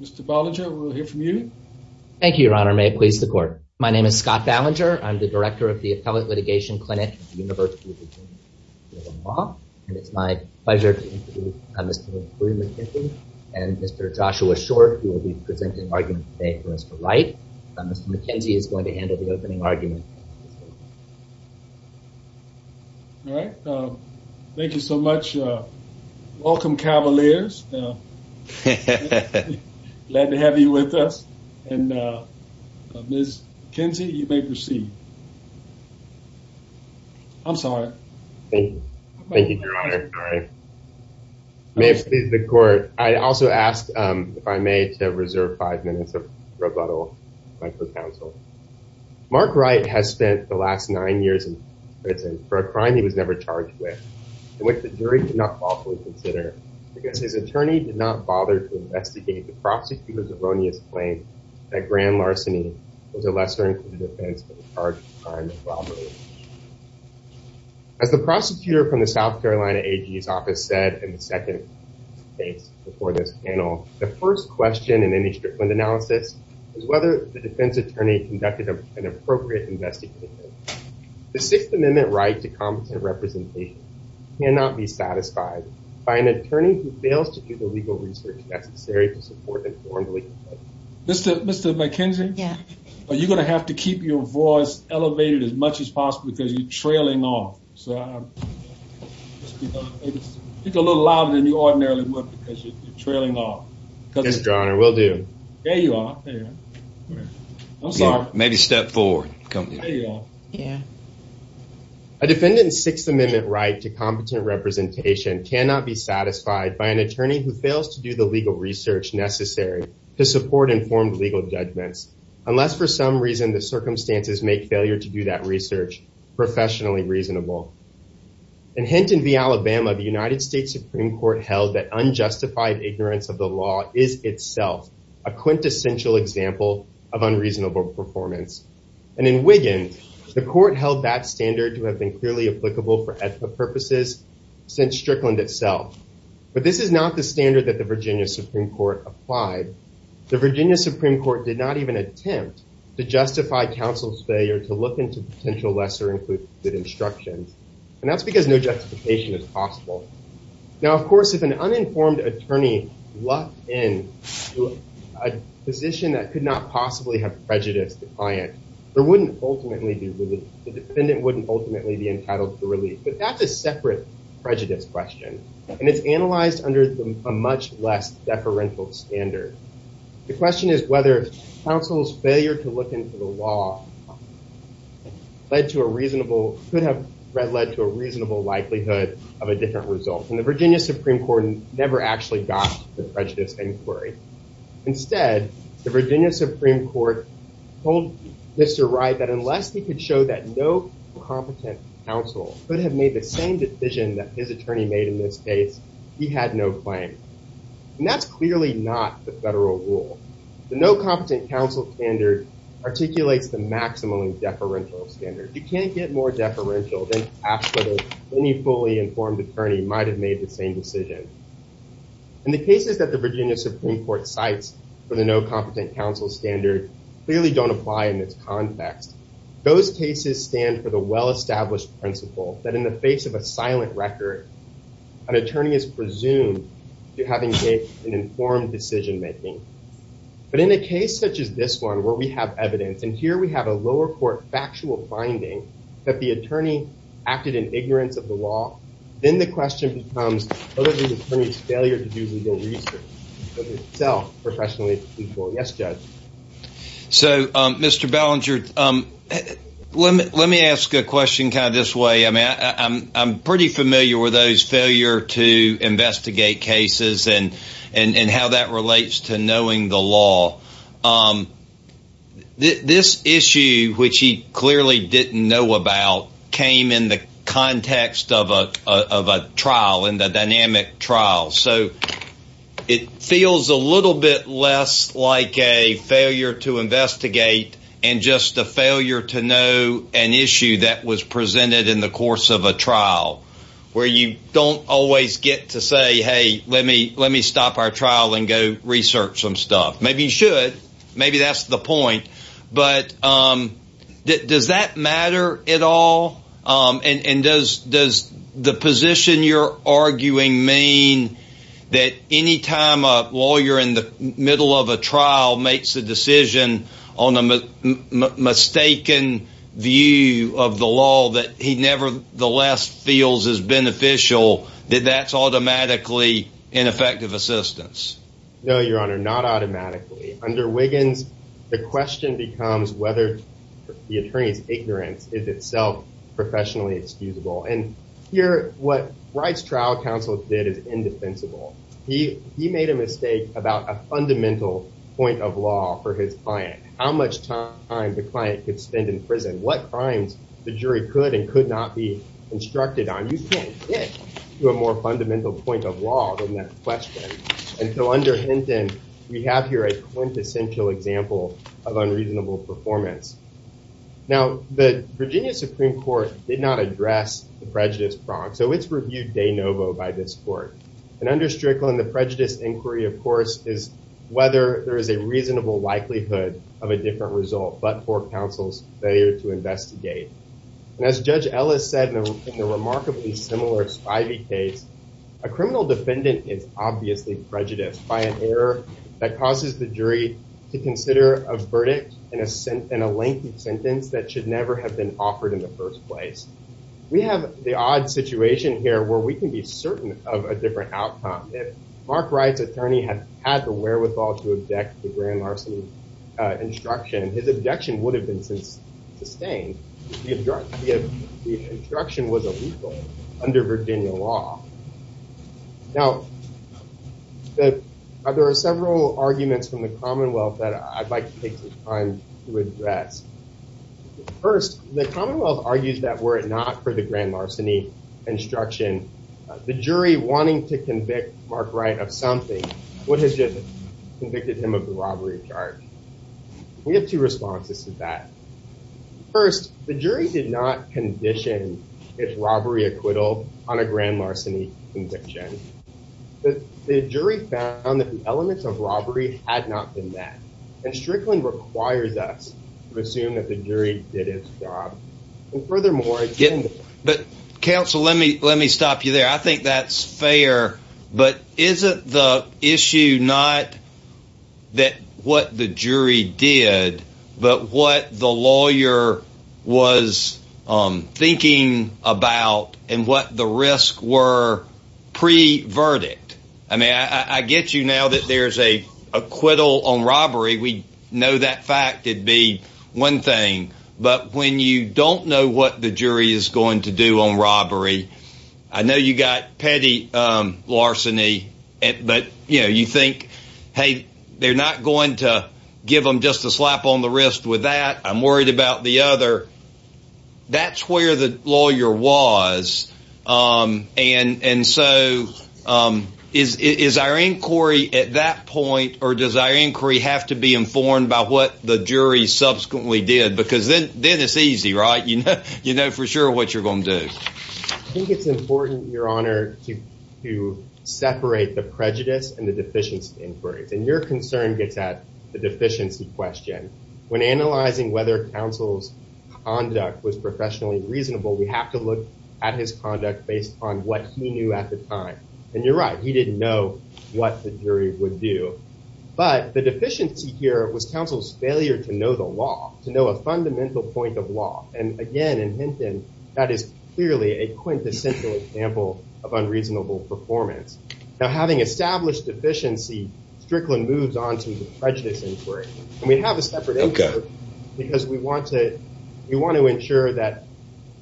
Mr. Ballinger, we'll hear from you. Thank you, Your Honor. May it please the court. My name is Scott Ballinger. I'm the director of the Appellate Litigation Clinic at the University of Virginia School of Law, and it's my pleasure to introduce Mr. Marie McKenzie and Mr. Joshua Short, who will be presenting arguments today for Mr. Wright. Mr. McKenzie is going to handle the opening argument. All right. Thank you so much. Welcome, Cavaliers. Glad to have you with us. And Ms. McKenzie, you may proceed. I'm sorry. Thank you. Thank you, Your Honor. May it please the court. I also ask, if I may, to reserve five minutes of rebuttal. Mark Wright has spent the last nine years in prison for a crime he was never to properly consider because his attorney did not bother to investigate the prosecutor's erroneous claim that grand larceny was a lesser-included offense for the charge of a crime of robbery. As the prosecutor from the South Carolina AG's office said in the second case before this panel, the first question in any Strickland analysis is whether the defense attorney conducted an appropriate investigation. The Sixth Amendment right to competent representation cannot be satisfied by an attorney who fails to do the legal research necessary to support an informed legal judgment. Mr. McKenzie, are you going to have to keep your voice elevated as much as possible because you're trailing off? Speak a little louder than you ordinarily would because you're trailing off. Yes, Your Honor, will do. There you are. I'm sorry. A defendant's Sixth Amendment right to competent representation cannot be satisfied by an attorney who fails to do the legal research necessary to support informed legal judgments, unless for some reason the circumstances make failure to do that research professionally reasonable. In Hinton v. Alabama, the United States Supreme Court held that unjustified ignorance of the And in Wiggins, the court held that standard to have been clearly applicable for ethical purposes since Strickland itself. But this is not the standard that the Virginia Supreme Court applied. The Virginia Supreme Court did not even attempt to justify counsel's failure to look into potential lesser included instructions. And that's because no justification is possible. Now, of course, if an uninformed attorney lucked in a position that could not possibly have prejudiced the client, the defendant wouldn't ultimately be entitled to relief. But that's a separate prejudice question. And it's analyzed under a much less deferential standard. The question is whether counsel's failure to look into the law could have led to a reasonable likelihood of a different result. And the Virginia Supreme Court never actually got the prejudice inquiry. Instead, the Virginia Supreme Court told Mr. Wright that unless he could show that no competent counsel could have made the same decision that his attorney made in this case, he had no claim. And that's clearly not the federal rule. The no competent counsel standard articulates the maximum deferential standard. You can't get more deferential than to ask whether any fully informed attorney might have made the same decision. And the cases that the Virginia Supreme Court cites for the no competent counsel standard clearly don't apply in this context. Those cases stand for the well-established principle that in the face of a silent record, an attorney is presumed to have engaged in informed decision making. But in a case such as this one where we have evidence, and here we have a lower court factual finding that the attorney acted in ignorance of the law, then the question becomes whether the attorney's failure to do the research was itself professionally useful. Yes, Judge? So, Mr. Ballinger, let me ask a question kind of this way. I'm pretty familiar with those cases. The issue which he clearly didn't know about came in the context of a trial, in the dynamic trial. So it feels a little bit less like a failure to investigate and just a failure to know an issue that was presented in the course of a trial where you don't always get to say, hey, let me stop our trial and go research some stuff. Maybe you should. Maybe that's the point. But does that matter at all? And does the position you're arguing mean that any time a lawyer in the middle of a trial makes a decision on a mistaken view of the law that he nevertheless feels is beneficial, that that's automatically ineffective assistance? No, Your Honor, not automatically. Under Wiggins, the question becomes whether the attorney's ignorance is itself professionally excusable. And here what Wright's trial counsel did is indefensible. He made a mistake about a fundamental point of law for his client, how much time the client could spend in prison, what crimes the jury could and could not be able to question. And so under Hinton, we have here a quintessential example of unreasonable performance. Now, the Virginia Supreme Court did not address the prejudice prong. So it's reviewed de novo by this court. And under Strickland, the prejudice inquiry, of course, is whether there is a reasonable likelihood of a different result but for counsel's failure to investigate. And as you can see, there's a lot of evidence in the Supreme Court that suggests that there is a reasonable likelihood of a different outcome. Now, if Mark Wright's attorney had had the wherewithal to object to the grand larceny instruction, his objection would have been sustained. The instruction was illegal under Virginia law. Now, there are several arguments from the Commonwealth that I'd like to take some time to address. First, the Commonwealth argues that were it not for the grand larceny instruction, the jury wanting to convict Mark Wright of something would have just convicted him of the robbery charge. We have two responses to that. First, the jury did not condition its robbery acquittal on a grand larceny conviction. The jury found that the elements of robbery had not been met. And Strickland requires us to assume that the jury did its job. And furthermore... But counsel, let me stop you there. I think that's fair. But isn't the issue not that what the jury did, but what the lawyer was thinking about and what the risks were pre-verdict? I mean, I get you now that there's an acquittal on robbery. We know that fact. It'd be one thing. But when you don't know what the jury is going to do on robbery, I know you got petty larceny. But you think, hey, they're not going to give them just a slap on the wrist with that. I'm worried about the other. That's where the lawyer was. And so is our inquiry at that point or does our inquiry have to be informed by what the jury subsequently did? Because then it's easy, right? You know for sure what you're going to do. I think it's important, Your Honor, to separate the prejudice and the deficiency inquiries. And your concern gets at the deficiency question. When analyzing whether counsel's conduct was professionally reasonable, we have to look at his conduct based on what he knew at the time. And you're right. He didn't know what the jury would do. But the deficiency here was counsel's failure to know the law, to know a fundamental point of law. And again, in Hinton, that is clearly a quintessential example of unreasonable performance. Now having established deficiency, Strickland moves on to the prejudice inquiry. We have a separate inquiry because we want to ensure that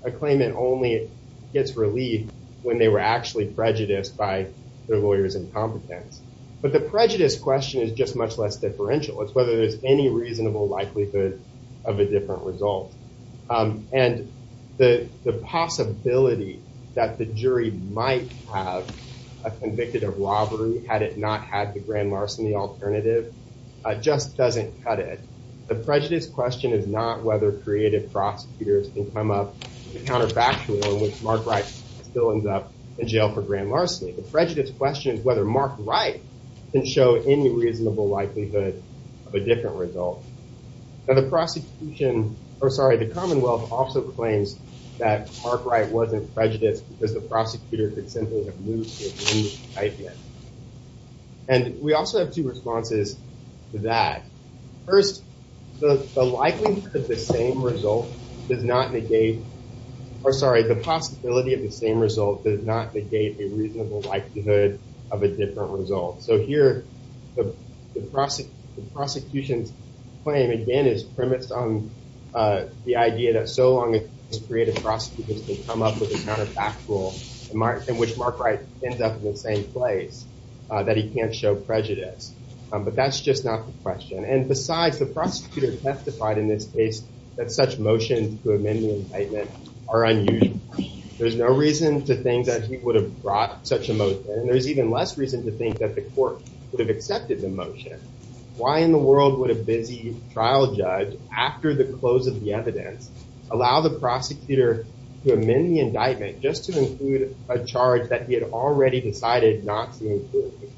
a claimant only gets relieved when they were actually prejudiced by their lawyer's incompetence. But the prejudice question is just much less differential. It's whether there's any reasonable likelihood of a different result. And the possibility that the jury might have convicted a robbery had it not had the grand larceny alternative just doesn't cut it. The prejudice question is not whether creative prosecutors can come up with a counterfactual in which Mark Wright still ends up in jail for grand larceny. The prejudice question is whether Mark Wright can show any reasonable likelihood of a different result. Now the prosecution, or sorry, the Commonwealth also claims that Mark Wright wasn't prejudiced because the prosecutor could simply have moved the agreement right there. And we also have two responses to that. First, the likelihood of the same result does not negate, or sorry, the possibility of the same result does not negate a reasonable likelihood of a different result. So here the prosecution's claim again is premised on the idea that so long as creative prosecutors can come up with a counterfactual in which Mark Wright ends up in the same place, that he can't show prejudice. But that's just not the question. And besides, the prosecutor testified in this case that such motions to amend the indictment are unusual. There's no reason to think that he would have brought such a motion and there's even less reason to think that the court would have accepted the motion. Why in the world would a busy trial judge, after the close of the evidence, allow the prosecutor to amend the indictment just to include a charge that he had already decided not to include?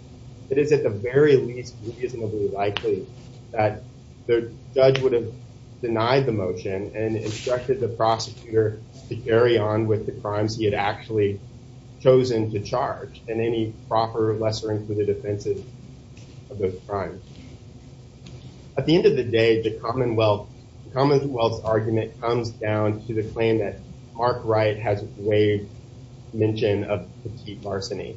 It is at the very least reasonably likely that the judge would have denied the motion and instructed the prosecutor to carry on with the crimes he had actually chosen to charge and any proper lesser-included offenses of those crimes. At the end of the day, the Commonwealth's argument comes down to the claim that Mark Wright has waived the mention of petite larceny.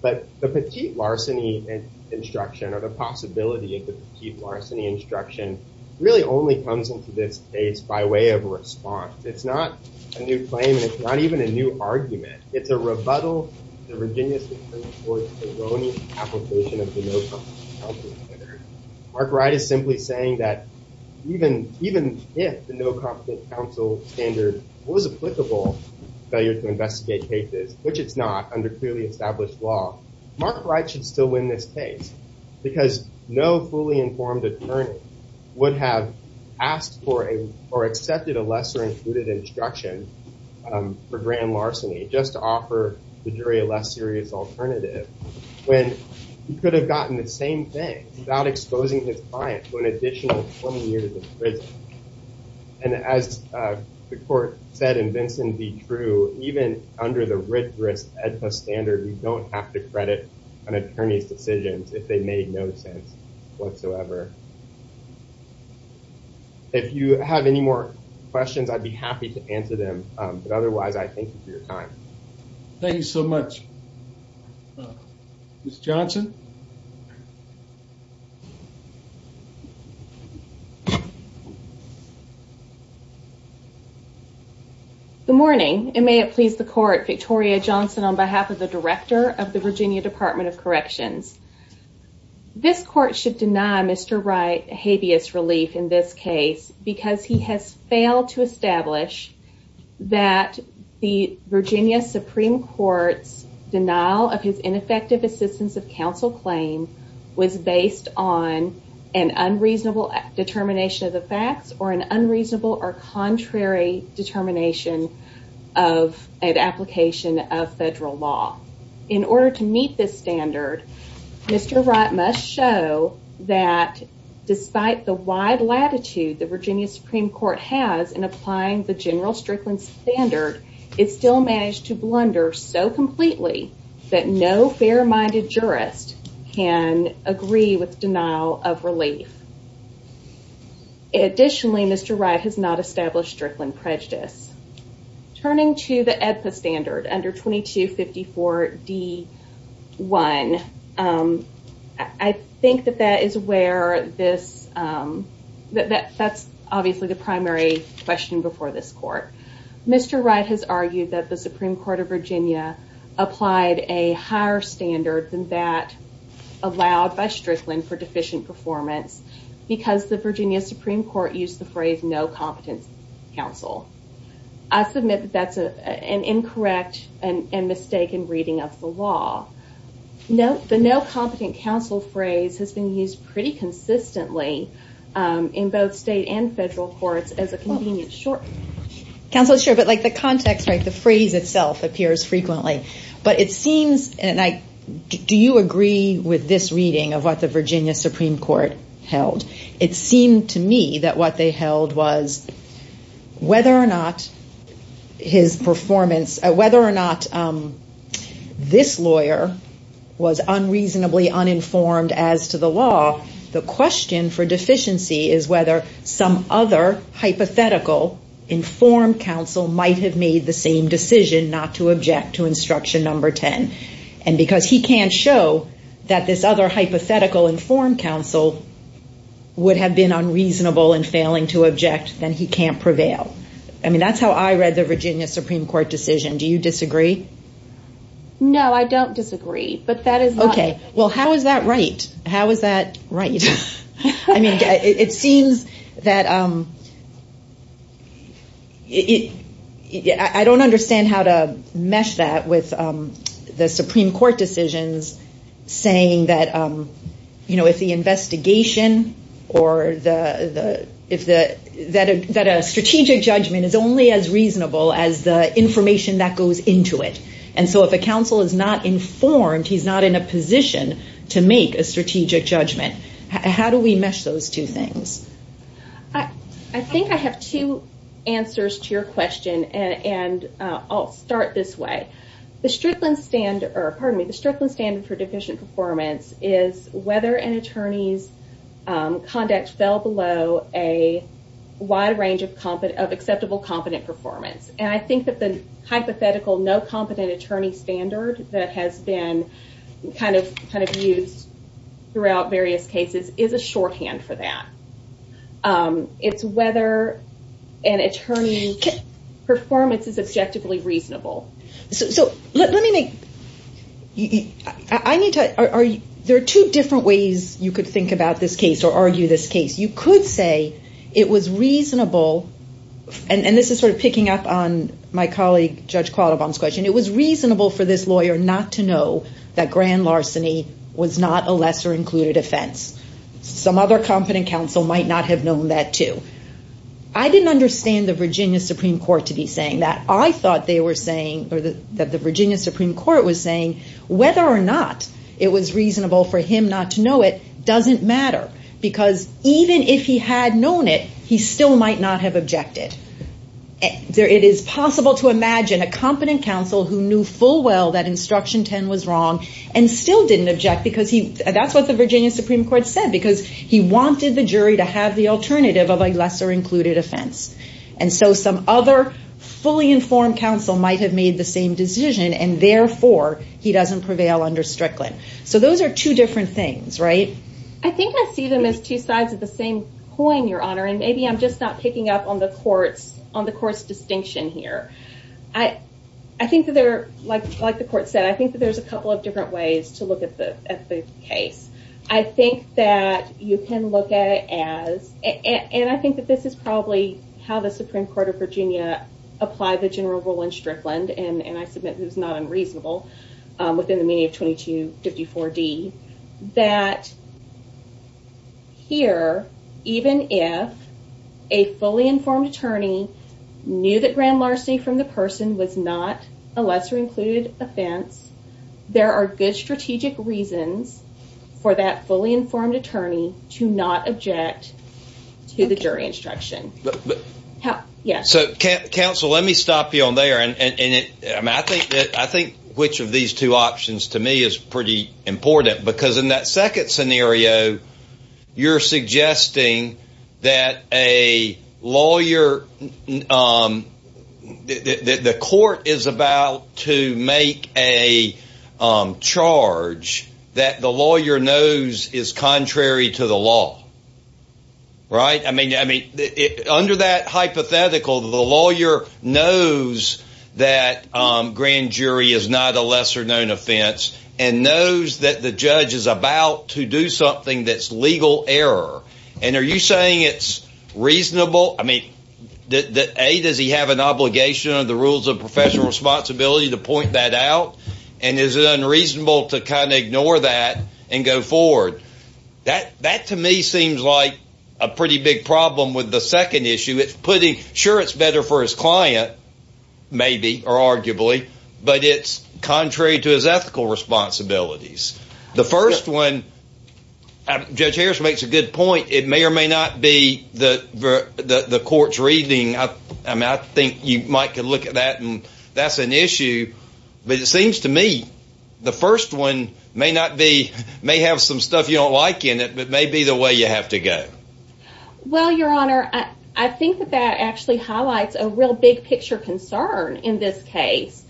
But the petite larceny instruction or the possibility of the petite larceny instruction really only comes into this case by way of response. It's not a new claim and it's not even a new argument. It's a rebuttal to Virginia's report's erroneous application of the no-competent counsel standard. Mark Wright is simply saying that even if the no-competent counsel standard was applicable to failure to investigate cases, which it's not under clearly established law, Mark Wright should still win this case because no fully informed attorney would have asked for or accepted a lesser-included instruction for grand larceny just to offer the jury a less serious alternative when he could have gotten the same thing without exposing his client to an additional 20 years in prison. And as the court said in Vinson v. Drew, even under the writ risk EDPA standard, you don't have to credit an attorney's decisions if they made no sense whatsoever. If you have any more questions, I'd be Mr. Johnson? Good morning, and may it please the court, Victoria Johnson on behalf of the director of the Virginia Department of Corrections. This court should deny Mr. Wright habeas relief in this case because he has failed to establish that the Virginia Supreme Court's denial of his ineffective assistance of counsel claim was based on an unreasonable determination of the facts or an unreasonable or contrary determination of an application of federal law. In order to meet this standard, Mr. Wright must show that despite the wide latitude the Virginia federal Strickland standard is still managed to blunder so completely that no fair-minded jurist can agree with denial of relief. Additionally, Mr. Wright has not established Strickland prejudice. Turning to the EDPA standard under 2254 D1, I think that that is where this, that's obviously the primary question before this court. Mr. Wright has argued that the Supreme Court of Virginia applied a higher standard than that allowed by Strickland for deficient performance because the Virginia Supreme Court used the phrase no competent counsel. I submit that that's an incorrect and mistaken reading of the law. The no competent counsel phrase has been used pretty consistently in both state and federal courts as a convenient short. Counsel, sure, but like the context, right, the phrase itself appears frequently. But it seems, and I, do you agree with this reading of what the Virginia Supreme Court held? It seemed to me that what they held was whether or not his performance, whether or not this lawyer was unreasonably uninformed as to the law, the question for deficiency is whether some other hypothetical informed counsel might have made the same decision not to object to instruction number 10. And because he can't show that this other hypothetical informed counsel would have been unreasonable in failing to object, then he can't prevail. I mean, that's how I read the Virginia Supreme Court decision. Do you disagree? No, I don't disagree, but that is okay. Well, how is that right? How is that right? I mean, it seems that it, I don't understand how to mesh that with the Supreme Court decisions saying that, you know, if the investigation or the, that a strategic judgment is only as reasonable as the information that goes into it. And so if a counsel is not informed, he's not in a position to make a strategic judgment. How do we mesh those two things? I think I have two answers to your question, and I'll start this way. The Strickland standard, or pardon me, the Strickland standard for deficient performance is whether an attorney's conduct fell below a wide range of acceptable competent performance. And I think that the hypothetical no kind of views throughout various cases is a shorthand for that. It's whether an attorney's performance is objectively reasonable. Let me make, I need to, there are two different ways you could think about this case or argue this case. You could say it was reasonable, and this is sort of picking up on my colleague Judge Qualibon's question, it was reasonable for this lawyer not to know that grand larceny was not a lesser included offense. Some other competent counsel might not have known that too. I didn't understand the Virginia Supreme Court to be saying that. I thought they were saying, or that the Virginia Supreme Court was saying whether or not it was reasonable for him not to know it doesn't matter. Because even if he had known it, he still might not have objected. It is possible to imagine a competent counsel who knew full well that instruction 10 was wrong and still didn't object, because that's what the Virginia Supreme Court said, because he wanted the jury to have the alternative of a lesser included offense. And so some other fully informed counsel might have made the same decision and therefore he doesn't prevail under Strickland. So those are two different things, right? I think I see them as two sides of the same coin, Your Honor, and maybe I'm just not picking up on the court's distinction here. I think that they're, like the court said, I think that there's a couple of different ways to look at the case. I think that you can look at it as, and I think that this is probably how the Supreme Court of Virginia applied the general rule in Strickland, and I submit that it was not unreasonable within the meaning of 2254D, that here, even if a fully informed attorney knew that grand larceny from the person was not a lesser included offense, there are good strategic reasons for that fully informed attorney to not object to the jury instruction. Counsel, let me stop you on there. I think which of these two options to me is pretty important, because in that second scenario, you're suggesting that a lawyer, the court is about to make a charge that the lawyer knows is contrary to the law, right? I mean, under that hypothetical, the lawyer knows that grand jury is not a lesser known offense and knows that the judge is about to do something that's legal error. And are you saying it's reasonable? A, does he have an obligation under the rules of professional responsibility to point that out? And is it unreasonable to kind of ignore that and go forward? That to me seems like a pretty big problem with the second issue. Sure, it's better for his client, maybe, or arguably, but it's contrary to his ethical responsibilities. The first one, Judge Harris makes a good point, it may or may not be the court's reading. I think you might look at that and that's an issue, but it seems to me the first one may not be, may have some stuff you don't like in it, but may be the way you have to go. Well, Your Honor, I think that actually highlights a real big picture concern in this case,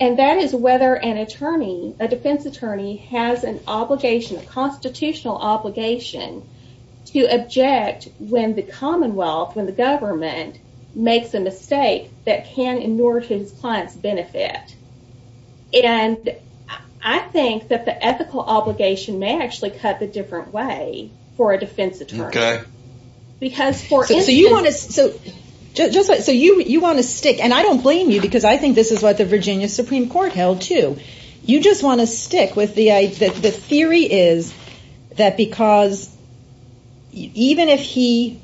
and that is whether an attorney, a defense attorney, has an obligation, a constitutional obligation to object when the Commonwealth, when the government makes a mistake that can in order to his client's benefit. And I think that the ethical obligation may actually cut the different way for a defense attorney. So you want to stick, and I don't blame you because I think this is what the Virginia Supreme Court held too, you just want to stick with the theory is that because even if he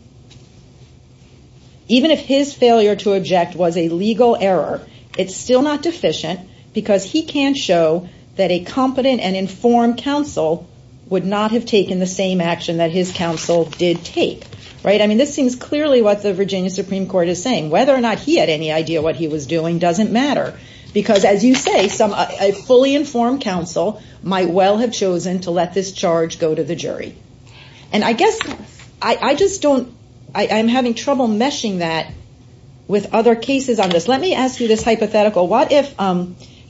even if his failure to object was a legal error, it's still not deficient because he can't show that a competent and informed counsel would not have taken the same action that his counsel did take, right? I mean, this seems clearly what the Virginia Supreme Court is saying. Whether or not he had any idea what he was doing doesn't matter, because as you say, a fully informed counsel might well have chosen to let this charge go to the jury. And I guess I just don't I'm having trouble meshing that with other cases on this. Let me ask you this hypothetical. What if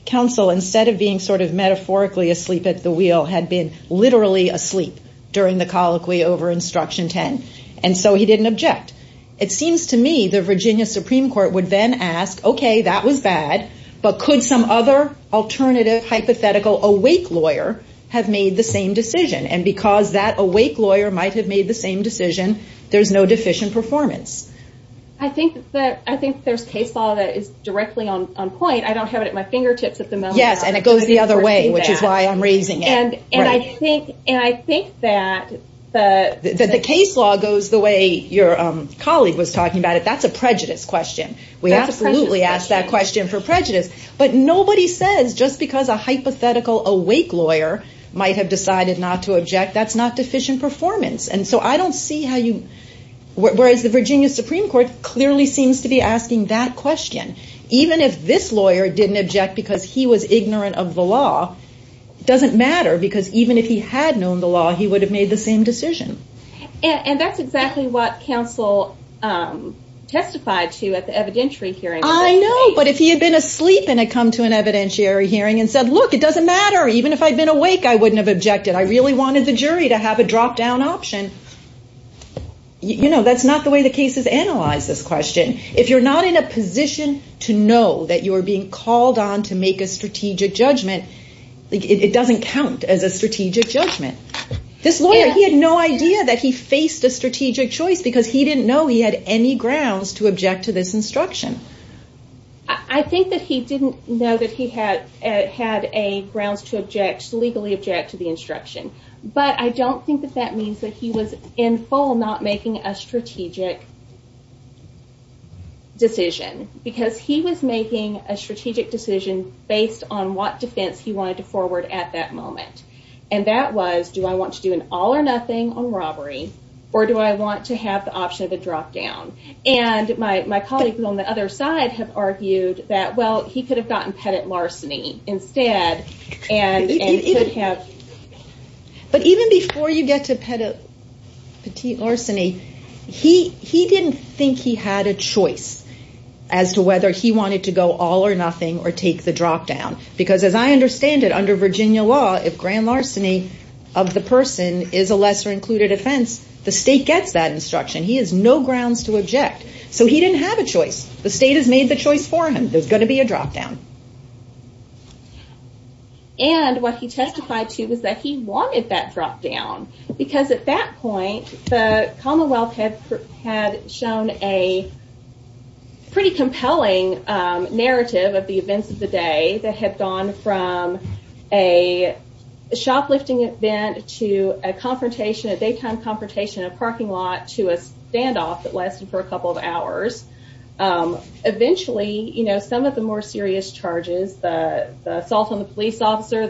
counsel, instead of being sort of metaphorically asleep at the wheel, had been literally asleep during the colloquy over Instruction 10, and so he didn't object? It seems to me the Virginia Supreme Court would then ask, okay, that was bad, but could some other alternative hypothetical awake lawyer have made the same decision? And because that awake lawyer might have made the same decision, there's no deficient performance. I think there's case law that is directly on point. I don't have it at my fingertips at the moment. Yes, and it goes the other way, which is why I'm raising it. And I think that the case law goes the way your colleague was talking about it. That's a prejudice question. We absolutely ask that question for prejudice. But nobody says just because a hypothetical awake lawyer might have decided not to object, that's not deficient performance. And so I don't see how you whereas the Virginia Supreme Court clearly seems to be asking that question. Even if this lawyer didn't object because he was ignorant of the law, it doesn't matter because even if he had known the law, he would have made the same decision. And that's exactly what counsel testified to at the evidentiary hearing. I know, but if he had been asleep and had come to an evidentiary hearing and said, look, it doesn't matter, even if I'd been awake, I wouldn't have objected. I really wanted the jury to have a drop down option. You know, that's not the way the case is analyzed, this question. If you're not in a position to know that you are being called on to make a strategic judgment, it doesn't count as a strategic judgment. This lawyer, he had no idea that he faced a strategic choice because he didn't know he had any grounds to object to this instruction. I think that he didn't know that he had grounds to legally object to the instruction. But I don't think that that means that he was in full not making a strategic decision. Because he was making a strategic decision based on what defense he wanted to forward at that moment. And that was, do I want to do an all or nothing on robbery or do I want to have the option of a drop down? And my colleagues on the other side have argued that, well, he could have gotten petit larceny instead. But even before you get to petit larceny, he didn't think he had a choice as to whether he wanted to go all or nothing or take the drop down. Because as I understand it, under Virginia law, if grand larceny of the person is a lesser included offense, the state gets that instruction. He has no grounds to object. So he didn't have a choice. The state has made the choice for him. There's going to be a drop down. And what he testified to was that he wanted that drop down because at that point the Commonwealth had shown a pretty compelling narrative of the events of the day that had gone from a shoplifting event to a confrontation, a daytime confrontation in a parking lot to a standoff that lasted for a couple of hours. Eventually, some of the more serious charges, the assault on the police officer,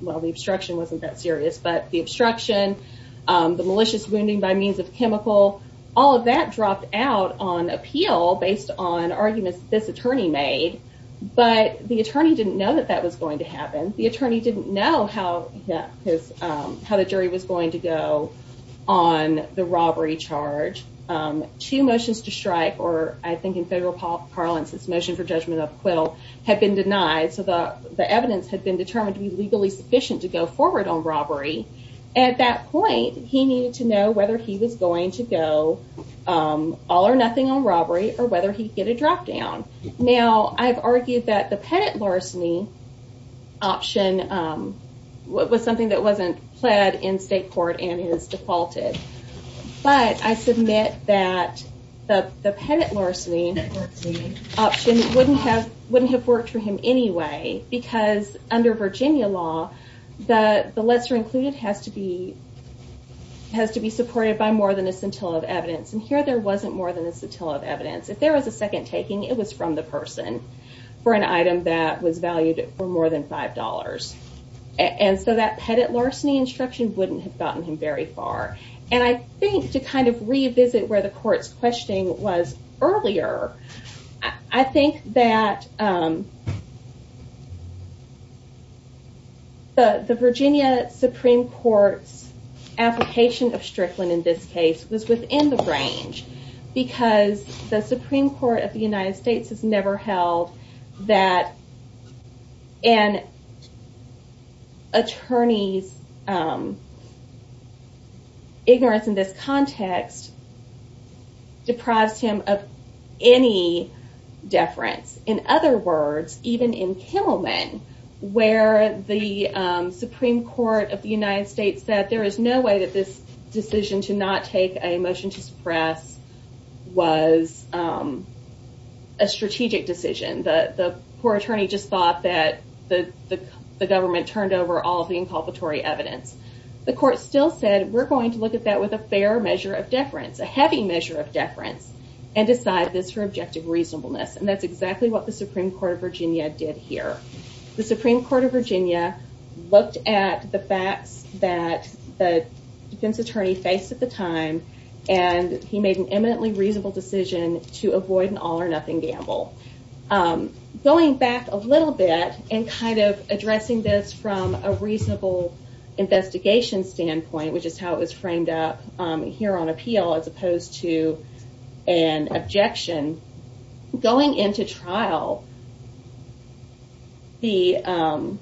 well, the obstruction wasn't that serious, but the obstruction, the malicious wounding by means of chemical, all of that dropped out on appeal based on arguments that this attorney made. But the attorney didn't know that that was going to happen. The attorney didn't know how the jury was going to go on the robbery charge. Two motions to strike, or I think in federal parlance, this motion for judgment of acquittal, had been denied. So the evidence had been determined to be legally sufficient to go forward on robbery. At that point, he needed to know whether he was going to go all or nothing on robbery or whether he'd get a drop down. Now, I've argued that the pennant larceny option was something that wasn't pled in state court and is defaulted. But I submit that the pennant larceny option wouldn't have worked for him anyway, because under Virginia law, the lesser included has to be supported by more than a scintilla of evidence. And here, there wasn't more than a scintilla of evidence. If there was a second taking, it was from the person for an item that was valued for more than $5. And so that pennant larceny instruction wouldn't have gotten him very far. And I think to kind of revisit where the court's questioning was earlier, I think that the Virginia Supreme Court's application of Strickland in this case was within the range because the Supreme Court of the United States has never held that an attorney's ignorance in this context deprives him of any deference. In other words, even in Kimmelman, where the Supreme Court of the United States said there is no way that this decision to not take a motion to suppress was a strategic decision. The poor attorney just thought that the government turned over all of the inculpatory evidence. The court still said, we're going to look at that with a fair measure of deference, a heavy measure of deference, and decide this for objective reasonableness. And that's exactly what the Supreme Court of Virginia did here. The Supreme Court of Virginia looked at the facts that the defense attorney faced at the time, and he made an eminently reasonable decision to avoid an all or nothing gamble. Going back a little bit and kind of addressing this from a reasonable investigation standpoint, which is how it was going into trial, the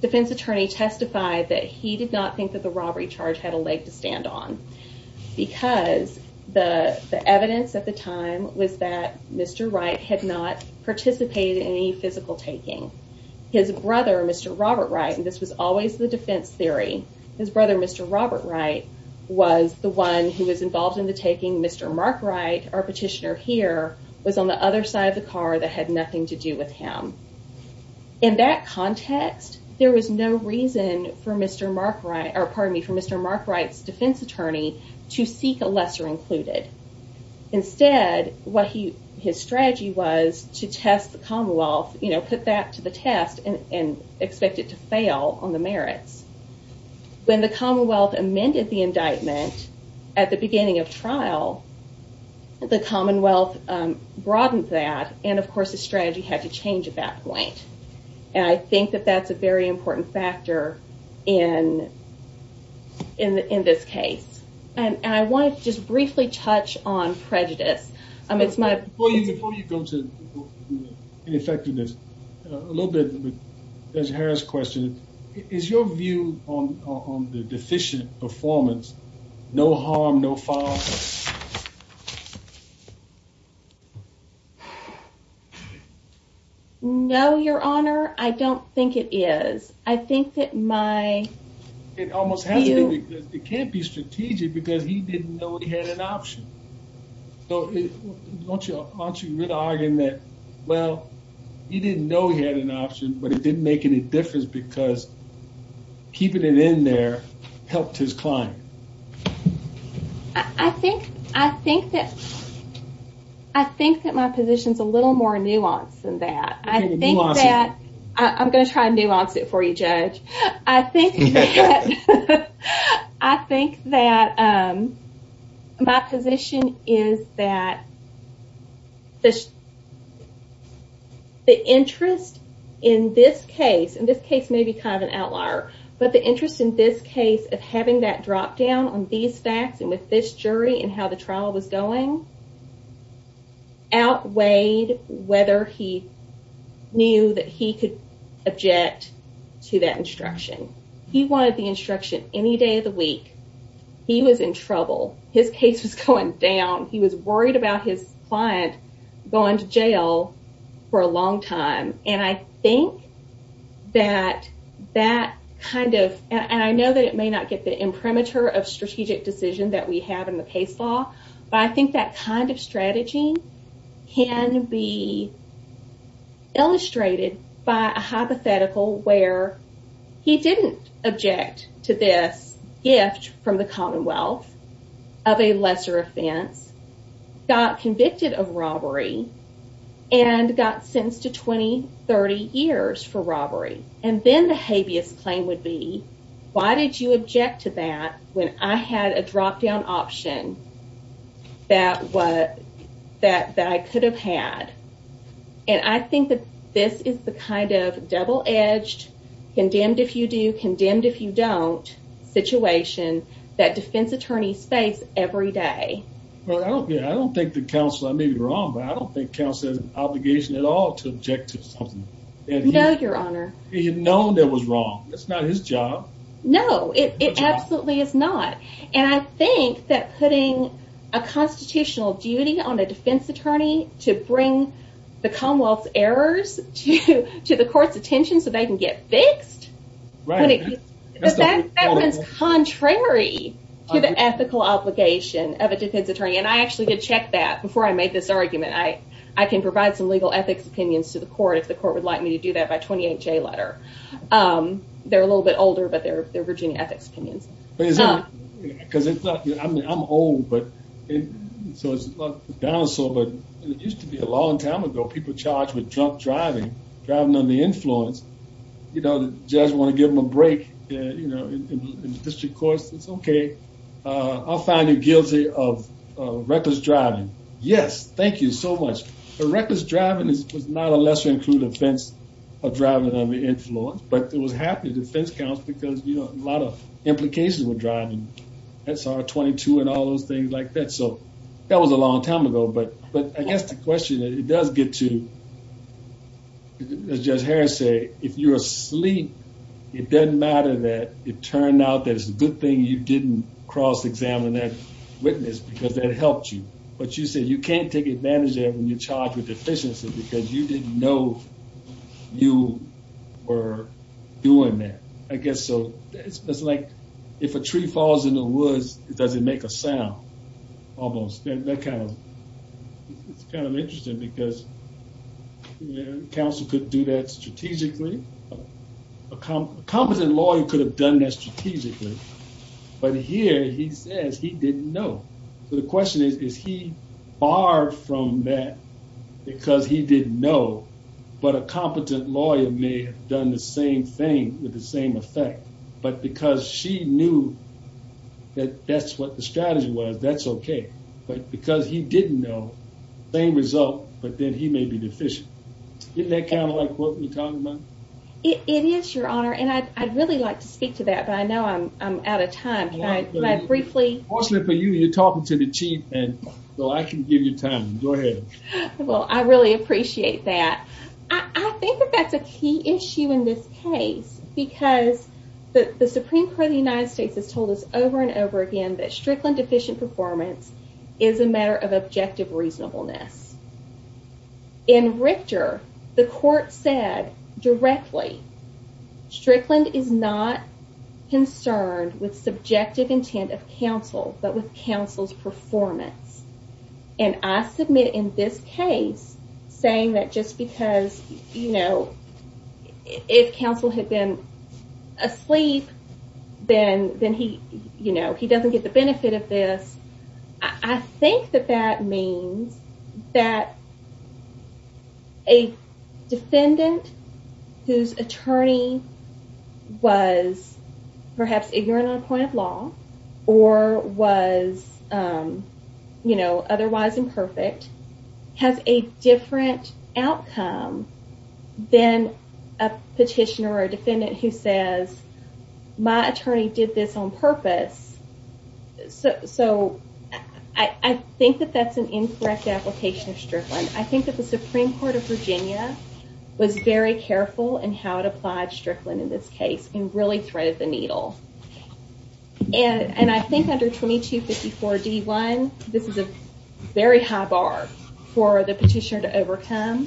defense attorney testified that he did not think that the robbery charge had a leg to stand on. Because the evidence at the time was that Mr. Wright had not participated in any physical taking. His brother, Mr. Robert Wright, and this was always the defense theory, his brother, Mr. Robert Wright, our petitioner here, was on the other side of the car that had nothing to do with him. In that context, there was no reason for Mr. Mark Wright's defense attorney to seek a lesser included. Instead, his strategy was to test the Commonwealth, put that to the test, and expect it to fail on the merits. When the Commonwealth amended the indictment at the beginning of trial, the Commonwealth broadened that, and of course the strategy had to change at that point. And I think that that's a very important factor in this case. And I want to just briefly touch on prejudice. Before you go to ineffectiveness, a little bit of a Des Harris question. Is your view on the deficient performance, no harm, no foul play? No, your honor, I don't think it is. I think that my... It can't be strategic because he didn't know he had an option. Aren't you really arguing that, well, he didn't know he had an option, but it didn't make any difference because keeping it in there helped his client? I think that my position is a little more I think that my position is that the interest in this case, and this case may be kind of an outlier, but the interest in this case of having that drop down on these facts and with this jury and how the trial was going, outweighed whether he knew that he could object to that instruction. He wanted the instruction any day of the week. He was in trouble. His case was going down. He was worried about his client going to jail for a long time. And I think that that kind of, and I know that it may not get the imprimatur of strategic decision that we have in the case law, but I think that kind of strategy can be illustrated by a hypothetical where he didn't object to this gift from the Commonwealth of a lesser offense, got convicted of robbery, and got sentenced to 20, 30 years for robbery. And then the habeas claim would be, why did you object to that when I had a drop down option that I could have had? And I think that this is the kind of double edged, condemned if you do, condemned if you don't situation that defense attorneys face every day. I don't think the counsel, I may be wrong, but I don't think counsel has an obligation at all to object to something. No, your honor. He had known it was wrong. It's not his job. No, it absolutely is not. And I think that putting a constitutional duty on a defense attorney to bring the Commonwealth's errors to the court's attention so they can get fixed. That's contrary to the ethical obligation of a defense attorney. And I actually did check that before I made this argument. I can provide some legal ethics opinions to the court if the court would like me to do that by 28 J letter. They're a little bit older, but they're Virginia ethics opinions. I'm old, so it's like a dinosaur, but it used to be a long time ago. People charged with drunk driving, driving under the influence. You know, the judge want to give him a break in the district courts. It's okay. I'll find you guilty of reckless driving. Yes. Thank you so much. Reckless driving was not a lesser included offense of driving under the influence, but it was happening defense counts because a lot of implications were driving SR 22 and all those things like that. So that was a long time ago. But I guess the question is, it does get to as Judge Harris say, if you're asleep, it doesn't matter that it turned out that it's a good thing you didn't cross examine that witness because that helped you. But you said you can't take advantage of it when you're charged with deficiency because you didn't know you were doing that. I guess so. It's like if a tree falls in the woods, it doesn't make a sound. Almost that kind of it's kind of interesting because counsel could do that strategically. A competent lawyer could have done that strategically. But here he says he didn't know. So the question is, is he barred from that because he didn't know. But a competent lawyer may have done the same thing with the same effect. But because she knew that that's what the strategy was, that's okay. But because he didn't know, same result. But then he may be deficient. Isn't that kind of like what you're talking about? It is, Your Honor. And I'd really like to speak to that. But I know I'm out of time. Can I briefly? Fortunately for you, you're talking to the Chief. Well, I can give you time. Go ahead. Well, I really appreciate that. I think that that's a key issue in this case because the Supreme Court of the United States has told us over and over again that Strickland deficient performance is a matter of objective reasonableness. In Richter, the court said directly, Strickland is not concerned with subjective intent of counsel, but with counsel's performance. And I submit in this case saying that just because, you know, if counsel had been asleep, then he, you know, he doesn't get the benefit of this. I think that that means that a defendant whose attorney was perhaps ignorant on a point of law or was, you know, a petitioner or defendant who says, my attorney did this on purpose. So I think that that's an incorrect application of Strickland. I think that the Supreme Court of Virginia was very careful in how it applied Strickland in this case and really threaded the needle. And I think under 2254 D1, this is a very high bar for the petitioner to overcome.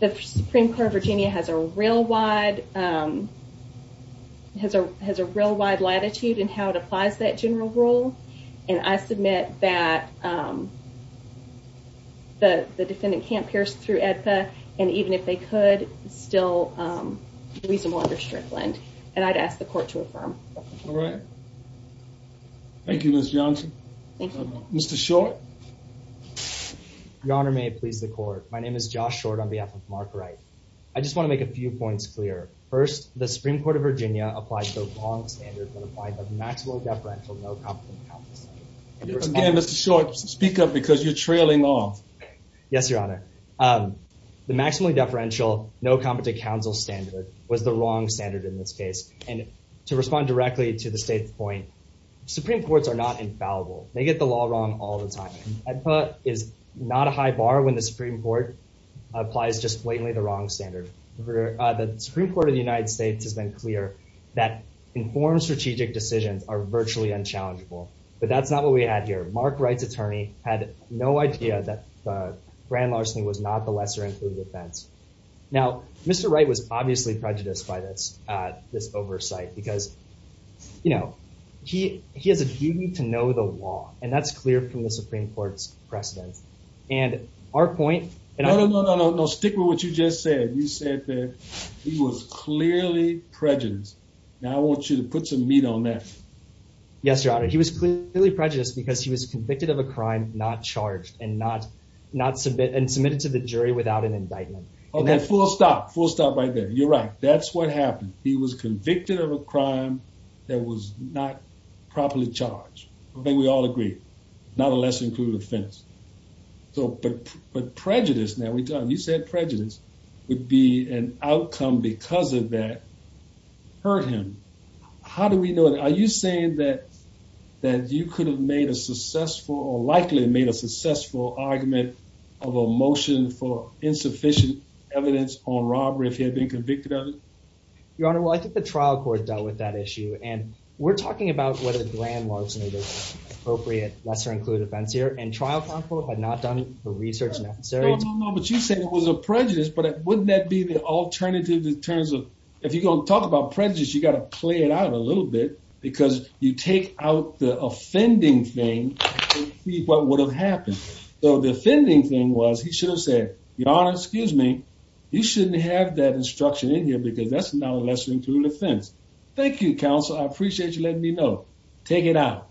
The Supreme Court of Virginia has a real wide latitude in how it applies that general rule. And I submit that the defendant can't pierce through AEDPA. And even if they could, it's still reasonable under Strickland. And I'd ask the court to affirm. Thank you, Ms. Johnson. Mr. Short. Your Honor, may it please the court. My name is Josh Short on behalf of Mark Wright. I just want to make a few points clear. First, the Supreme Court of Virginia applied the wrong standard that applied the maximum deferential no competent counsel standard. Again, Mr. Short, speak up because you're trailing off. Yes, Your Honor. The maximally deferential no competent counsel standard was the wrong standard in this case. And to respond directly to the state's point, Supreme Courts are not infallible. They get the law wrong all the time. AEDPA is not a high bar when the Supreme Court applies just blatantly the wrong standard. The Supreme Court of the United States has been clear that informed strategic decisions are virtually unchallengeable. But that's not what we had here. Mark Wright's attorney had no idea that grand larceny was not the lesser included offense. Now, Mr. Wright was obviously prejudiced by this oversight because, you know, he has a duty to know the law. And that's clear from the Supreme Court's precedent. And our point... No, no, no, no, no. Stick with what you just said. You said that he was clearly prejudiced. Now I want you to put some meat on that. Yes, Your Honor. He was clearly prejudiced because he was convicted of a crime not charged and not submitted to the jury without an indictment. Okay, full stop. Full stop right there. You're right. That's what happened. He was convicted of a crime that was not properly charged. I think we all agree. Not a lesser included offense. But prejudice, now you said prejudice would be an outcome because of that hurt him. How do we know that? Are you saying that you could have made a successful or likely made a successful argument of a motion for insufficient evidence on robbery if he had been convicted of it? Your Honor, well, I think the trial court dealt with that issue. And we're talking about whether grand larceny is an appropriate lesser included offense here. And trial counsel had not done the research necessary... No, no, no. But you say it was a prejudice. But wouldn't that be the alternative in terms of... If you're going to talk about prejudice, you've got to play it out a little bit. Because you take out the offending thing to see what would have happened. So the offending thing was, he should have said, Your Honor, excuse me, you shouldn't have that instruction in here because that's not a lesser included offense. Thank you, counsel. I appreciate you letting me know. Take it out.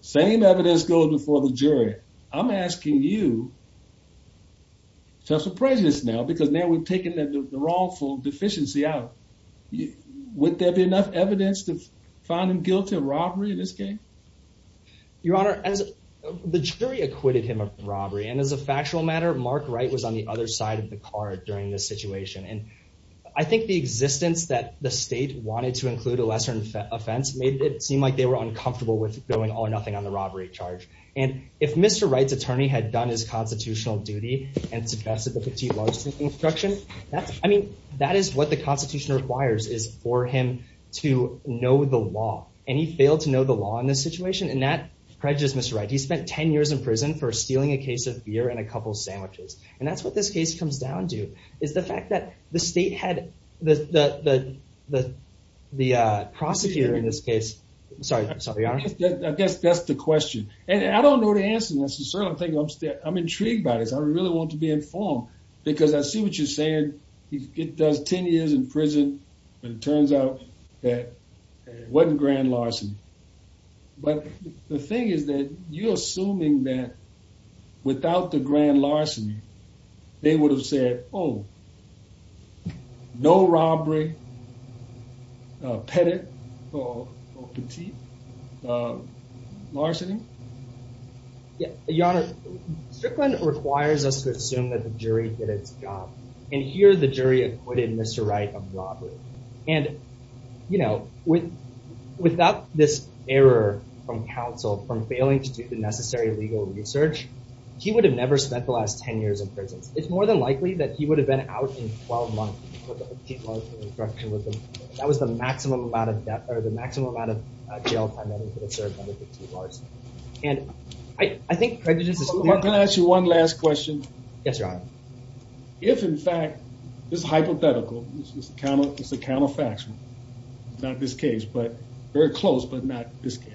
Same evidence goes before the jury. I'm asking you to have some prejudice now because now we've taken the wrongful deficiency out. Would there be enough evidence to find him guilty of robbery in this case? Your Honor, the jury acquitted him of robbery. And as a factual matter, Mark Wright was on the other side of the card during this situation. And I think the existence that the state wanted to include a lesser offense made it seem like they were uncomfortable with going all or nothing on the robbery charge. And if Mr. Wright's attorney had done his constitutional duty and suggested the petite larceny instruction, I mean, that is what the Constitution requires is for him to know the law. And he failed to know the law in this situation. And that prejudice Mr. Wright. He spent 10 years in prison for stealing a case of beer and a couple of sandwiches. And that's what this case comes down to. Is the fact that the state had the prosecutor in this case... Sorry, Your Honor. I guess that's the question. And I don't know the answer necessarily. I'm intrigued by this. I really want to be informed because I see what you're saying. He does 10 years in prison. And it turns out that it wasn't grand larceny. But the thing is that you're assuming that without the grand larceny, they would have said, oh, no robbery, petty or petite larceny. Your Honor, Strickland requires us to assume that the jury did its job. And here the jury acquitted Mr. Wright of robbery. And, you know, without this error from counsel from failing to do the necessary legal research, he would have never spent the last 10 years in prison. It's more than likely that he would have been out in 12 months. That was the maximum amount of debt or the maximum amount of jail time. And I think prejudice... Can I ask you one last question? Yes, Your Honor. If, in fact, this is hypothetical, it's a counterfactual, not this case, but very close, but not this case.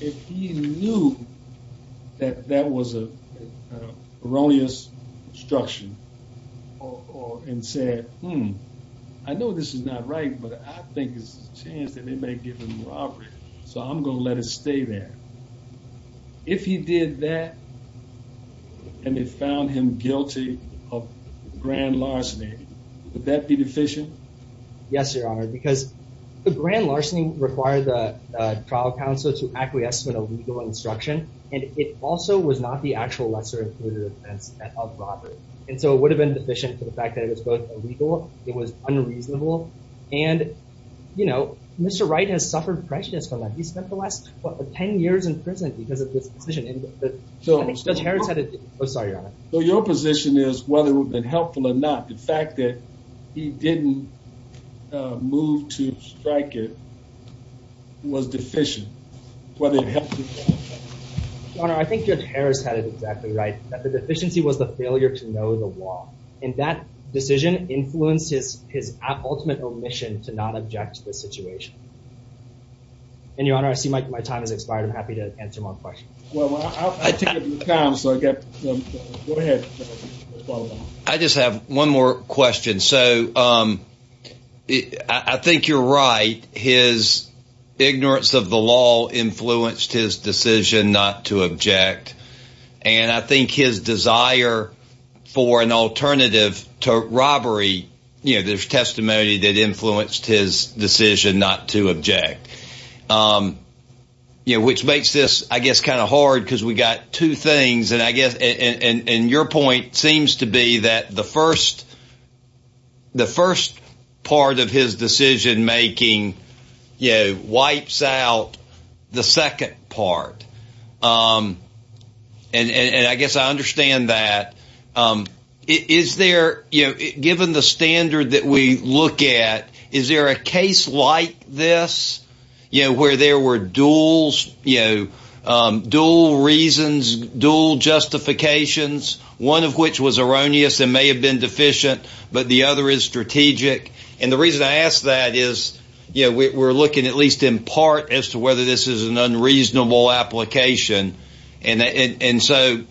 If he knew that that was a erroneous instruction and said, hmm, I know this is not right, but I think it's a chance that they may give him robbery. So I'm going to let it stay there. If he did that and they found him guilty of grand larceny, would that be deficient? Yes, Your Honor, because the grand larceny required the trial counsel to acquiesce in a legal instruction. And it also was not the actual lesser included offense of robbery. And so it would have been deficient for the fact that it was both illegal. It was unreasonable. And, you know, Mr. Wright has suffered prejudice from that. He spent the last 10 years in prison because of this decision. So your position is whether it would have been helpful or not. The fact that he didn't move to strike it was deficient, whether it helped or not. Your Honor, I think Judge Harris had it exactly right, that the deficiency was the failure to know the law. And that decision influenced his ultimate omission to not object to this situation. And, Your Honor, I see my time has expired. I'm happy to answer more questions. I just have one more question. So I think you're right. His ignorance of the law influenced his decision not to object. And I think his desire for an alternative to robbery, you know, there's testimony that influenced his decision not to object. You know, which makes this, I guess, kind of hard because we got two things. And I guess and your point seems to be that the first part of his decision making, you know, wipes out the second part. And I guess I understand that. Is there, you know, given the standard that we look at, is there a case like this, you know, where there were dual reasons, dual justifications, one of which was erroneous and may have been deficient, but the other is strategic? And the reason I ask that is, you know, we're looking at least in part as to whether this is an unreasonable application. And so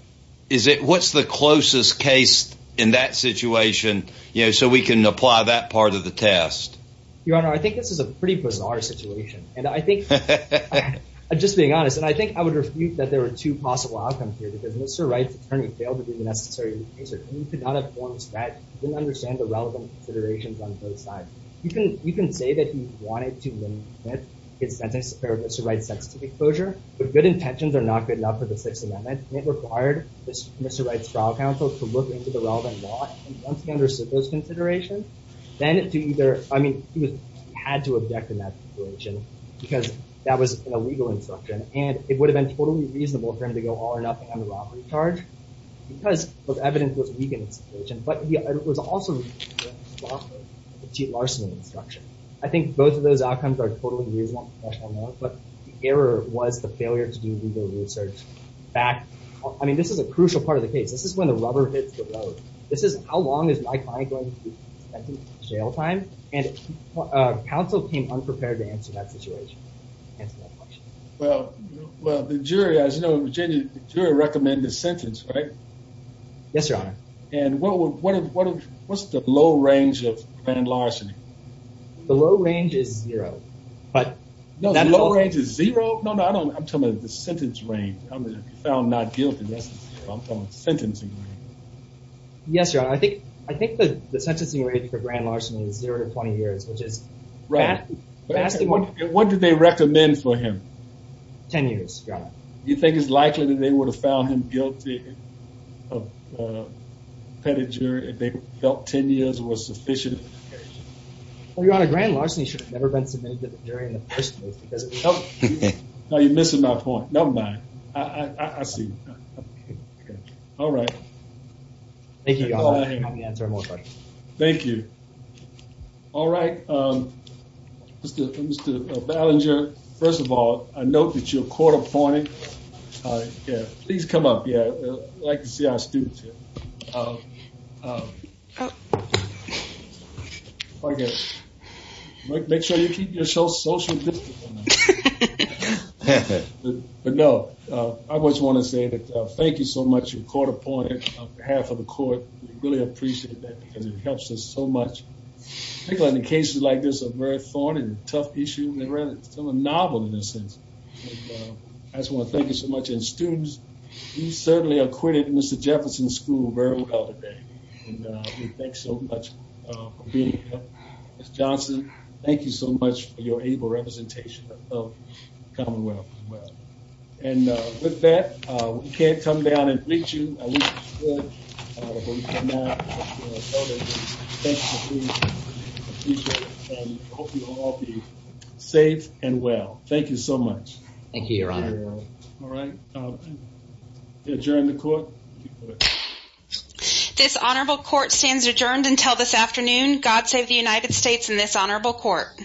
is it, what's the closest case in that situation, you know, so we can apply that part of the test? Your Honor, I think this is a pretty bizarre situation. And I think, just being honest, and I think I would refute that there were two possible outcomes here because Mr. Wright's attorney failed to do the necessary research. He could not have formed a strategy. He didn't understand the relevant considerations on both sides. You can say that he wanted to limit his sentence for Mr. Wright's sexist exposure, but good intentions are not good enough for the Sixth Amendment. And it required Mr. Wright's trial counsel to look into the relevant law and once he understood those considerations, then to either, I mean, he had to object in that situation because that was an illegal instruction and it would have been totally reasonable for him to go all or nothing on the robbery charge because the evidence was weak in that situation. But he was also responsible for the cheap larceny instruction. I think both of those outcomes are totally reasonable. But the error was the failure to do legal research back. I mean, this is a crucial part of the case. This is when the rubber hits the road. This is how long is my client going to be in jail time? And counsel came unprepared to answer that situation. Well, well, the jury, as you know, Virginia, the jury recommended the sentence, right? Yes, your honor. And what, what, what, what, what's the low range of grand larceny? The low range is zero, but that low range is zero. No, no, I don't. I'm talking about the sentence range found not guilty. I'm talking about sentencing range. Yes, your honor. I think, I think that the sentencing range for grand larceny is zero to 20 years, which is right. What did they recommend for him? Ten years, your honor. You think it's likely that they would have found him guilty of petty jury if they felt 10 years was sufficient? Well, your honor, grand larceny should have never been submitted to the jury in the first place. No, you're missing my point. Never mind. I see. All right. Thank you, your honor. I'm happy to answer more questions. Thank you. All right. Mr. Ballinger, first of all, I note that you're court appointed. Please come up. Yeah. I'd like to see our students here. Make sure you keep your social distance. But no, I just want to say thank you so much. You're court appointed on behalf of the court. We really appreciate that because it helps us so much. In cases like this, a very thorny and tough issue. It's a novel in a sense. I just want to thank you so much. And students, you certainly acquitted Mr. Jefferson's school very well today. And we thank you so much for being here. Ms. Johnson, thank you so much for your able representation of the Commonwealth as well. And with that, we can't come down and greet you. I hope you all be safe and well. Thank you so much. Thank you, your honor. All right. Adjourn the court. This honorable court stands adjourned until this afternoon. God save the United States and this honorable court.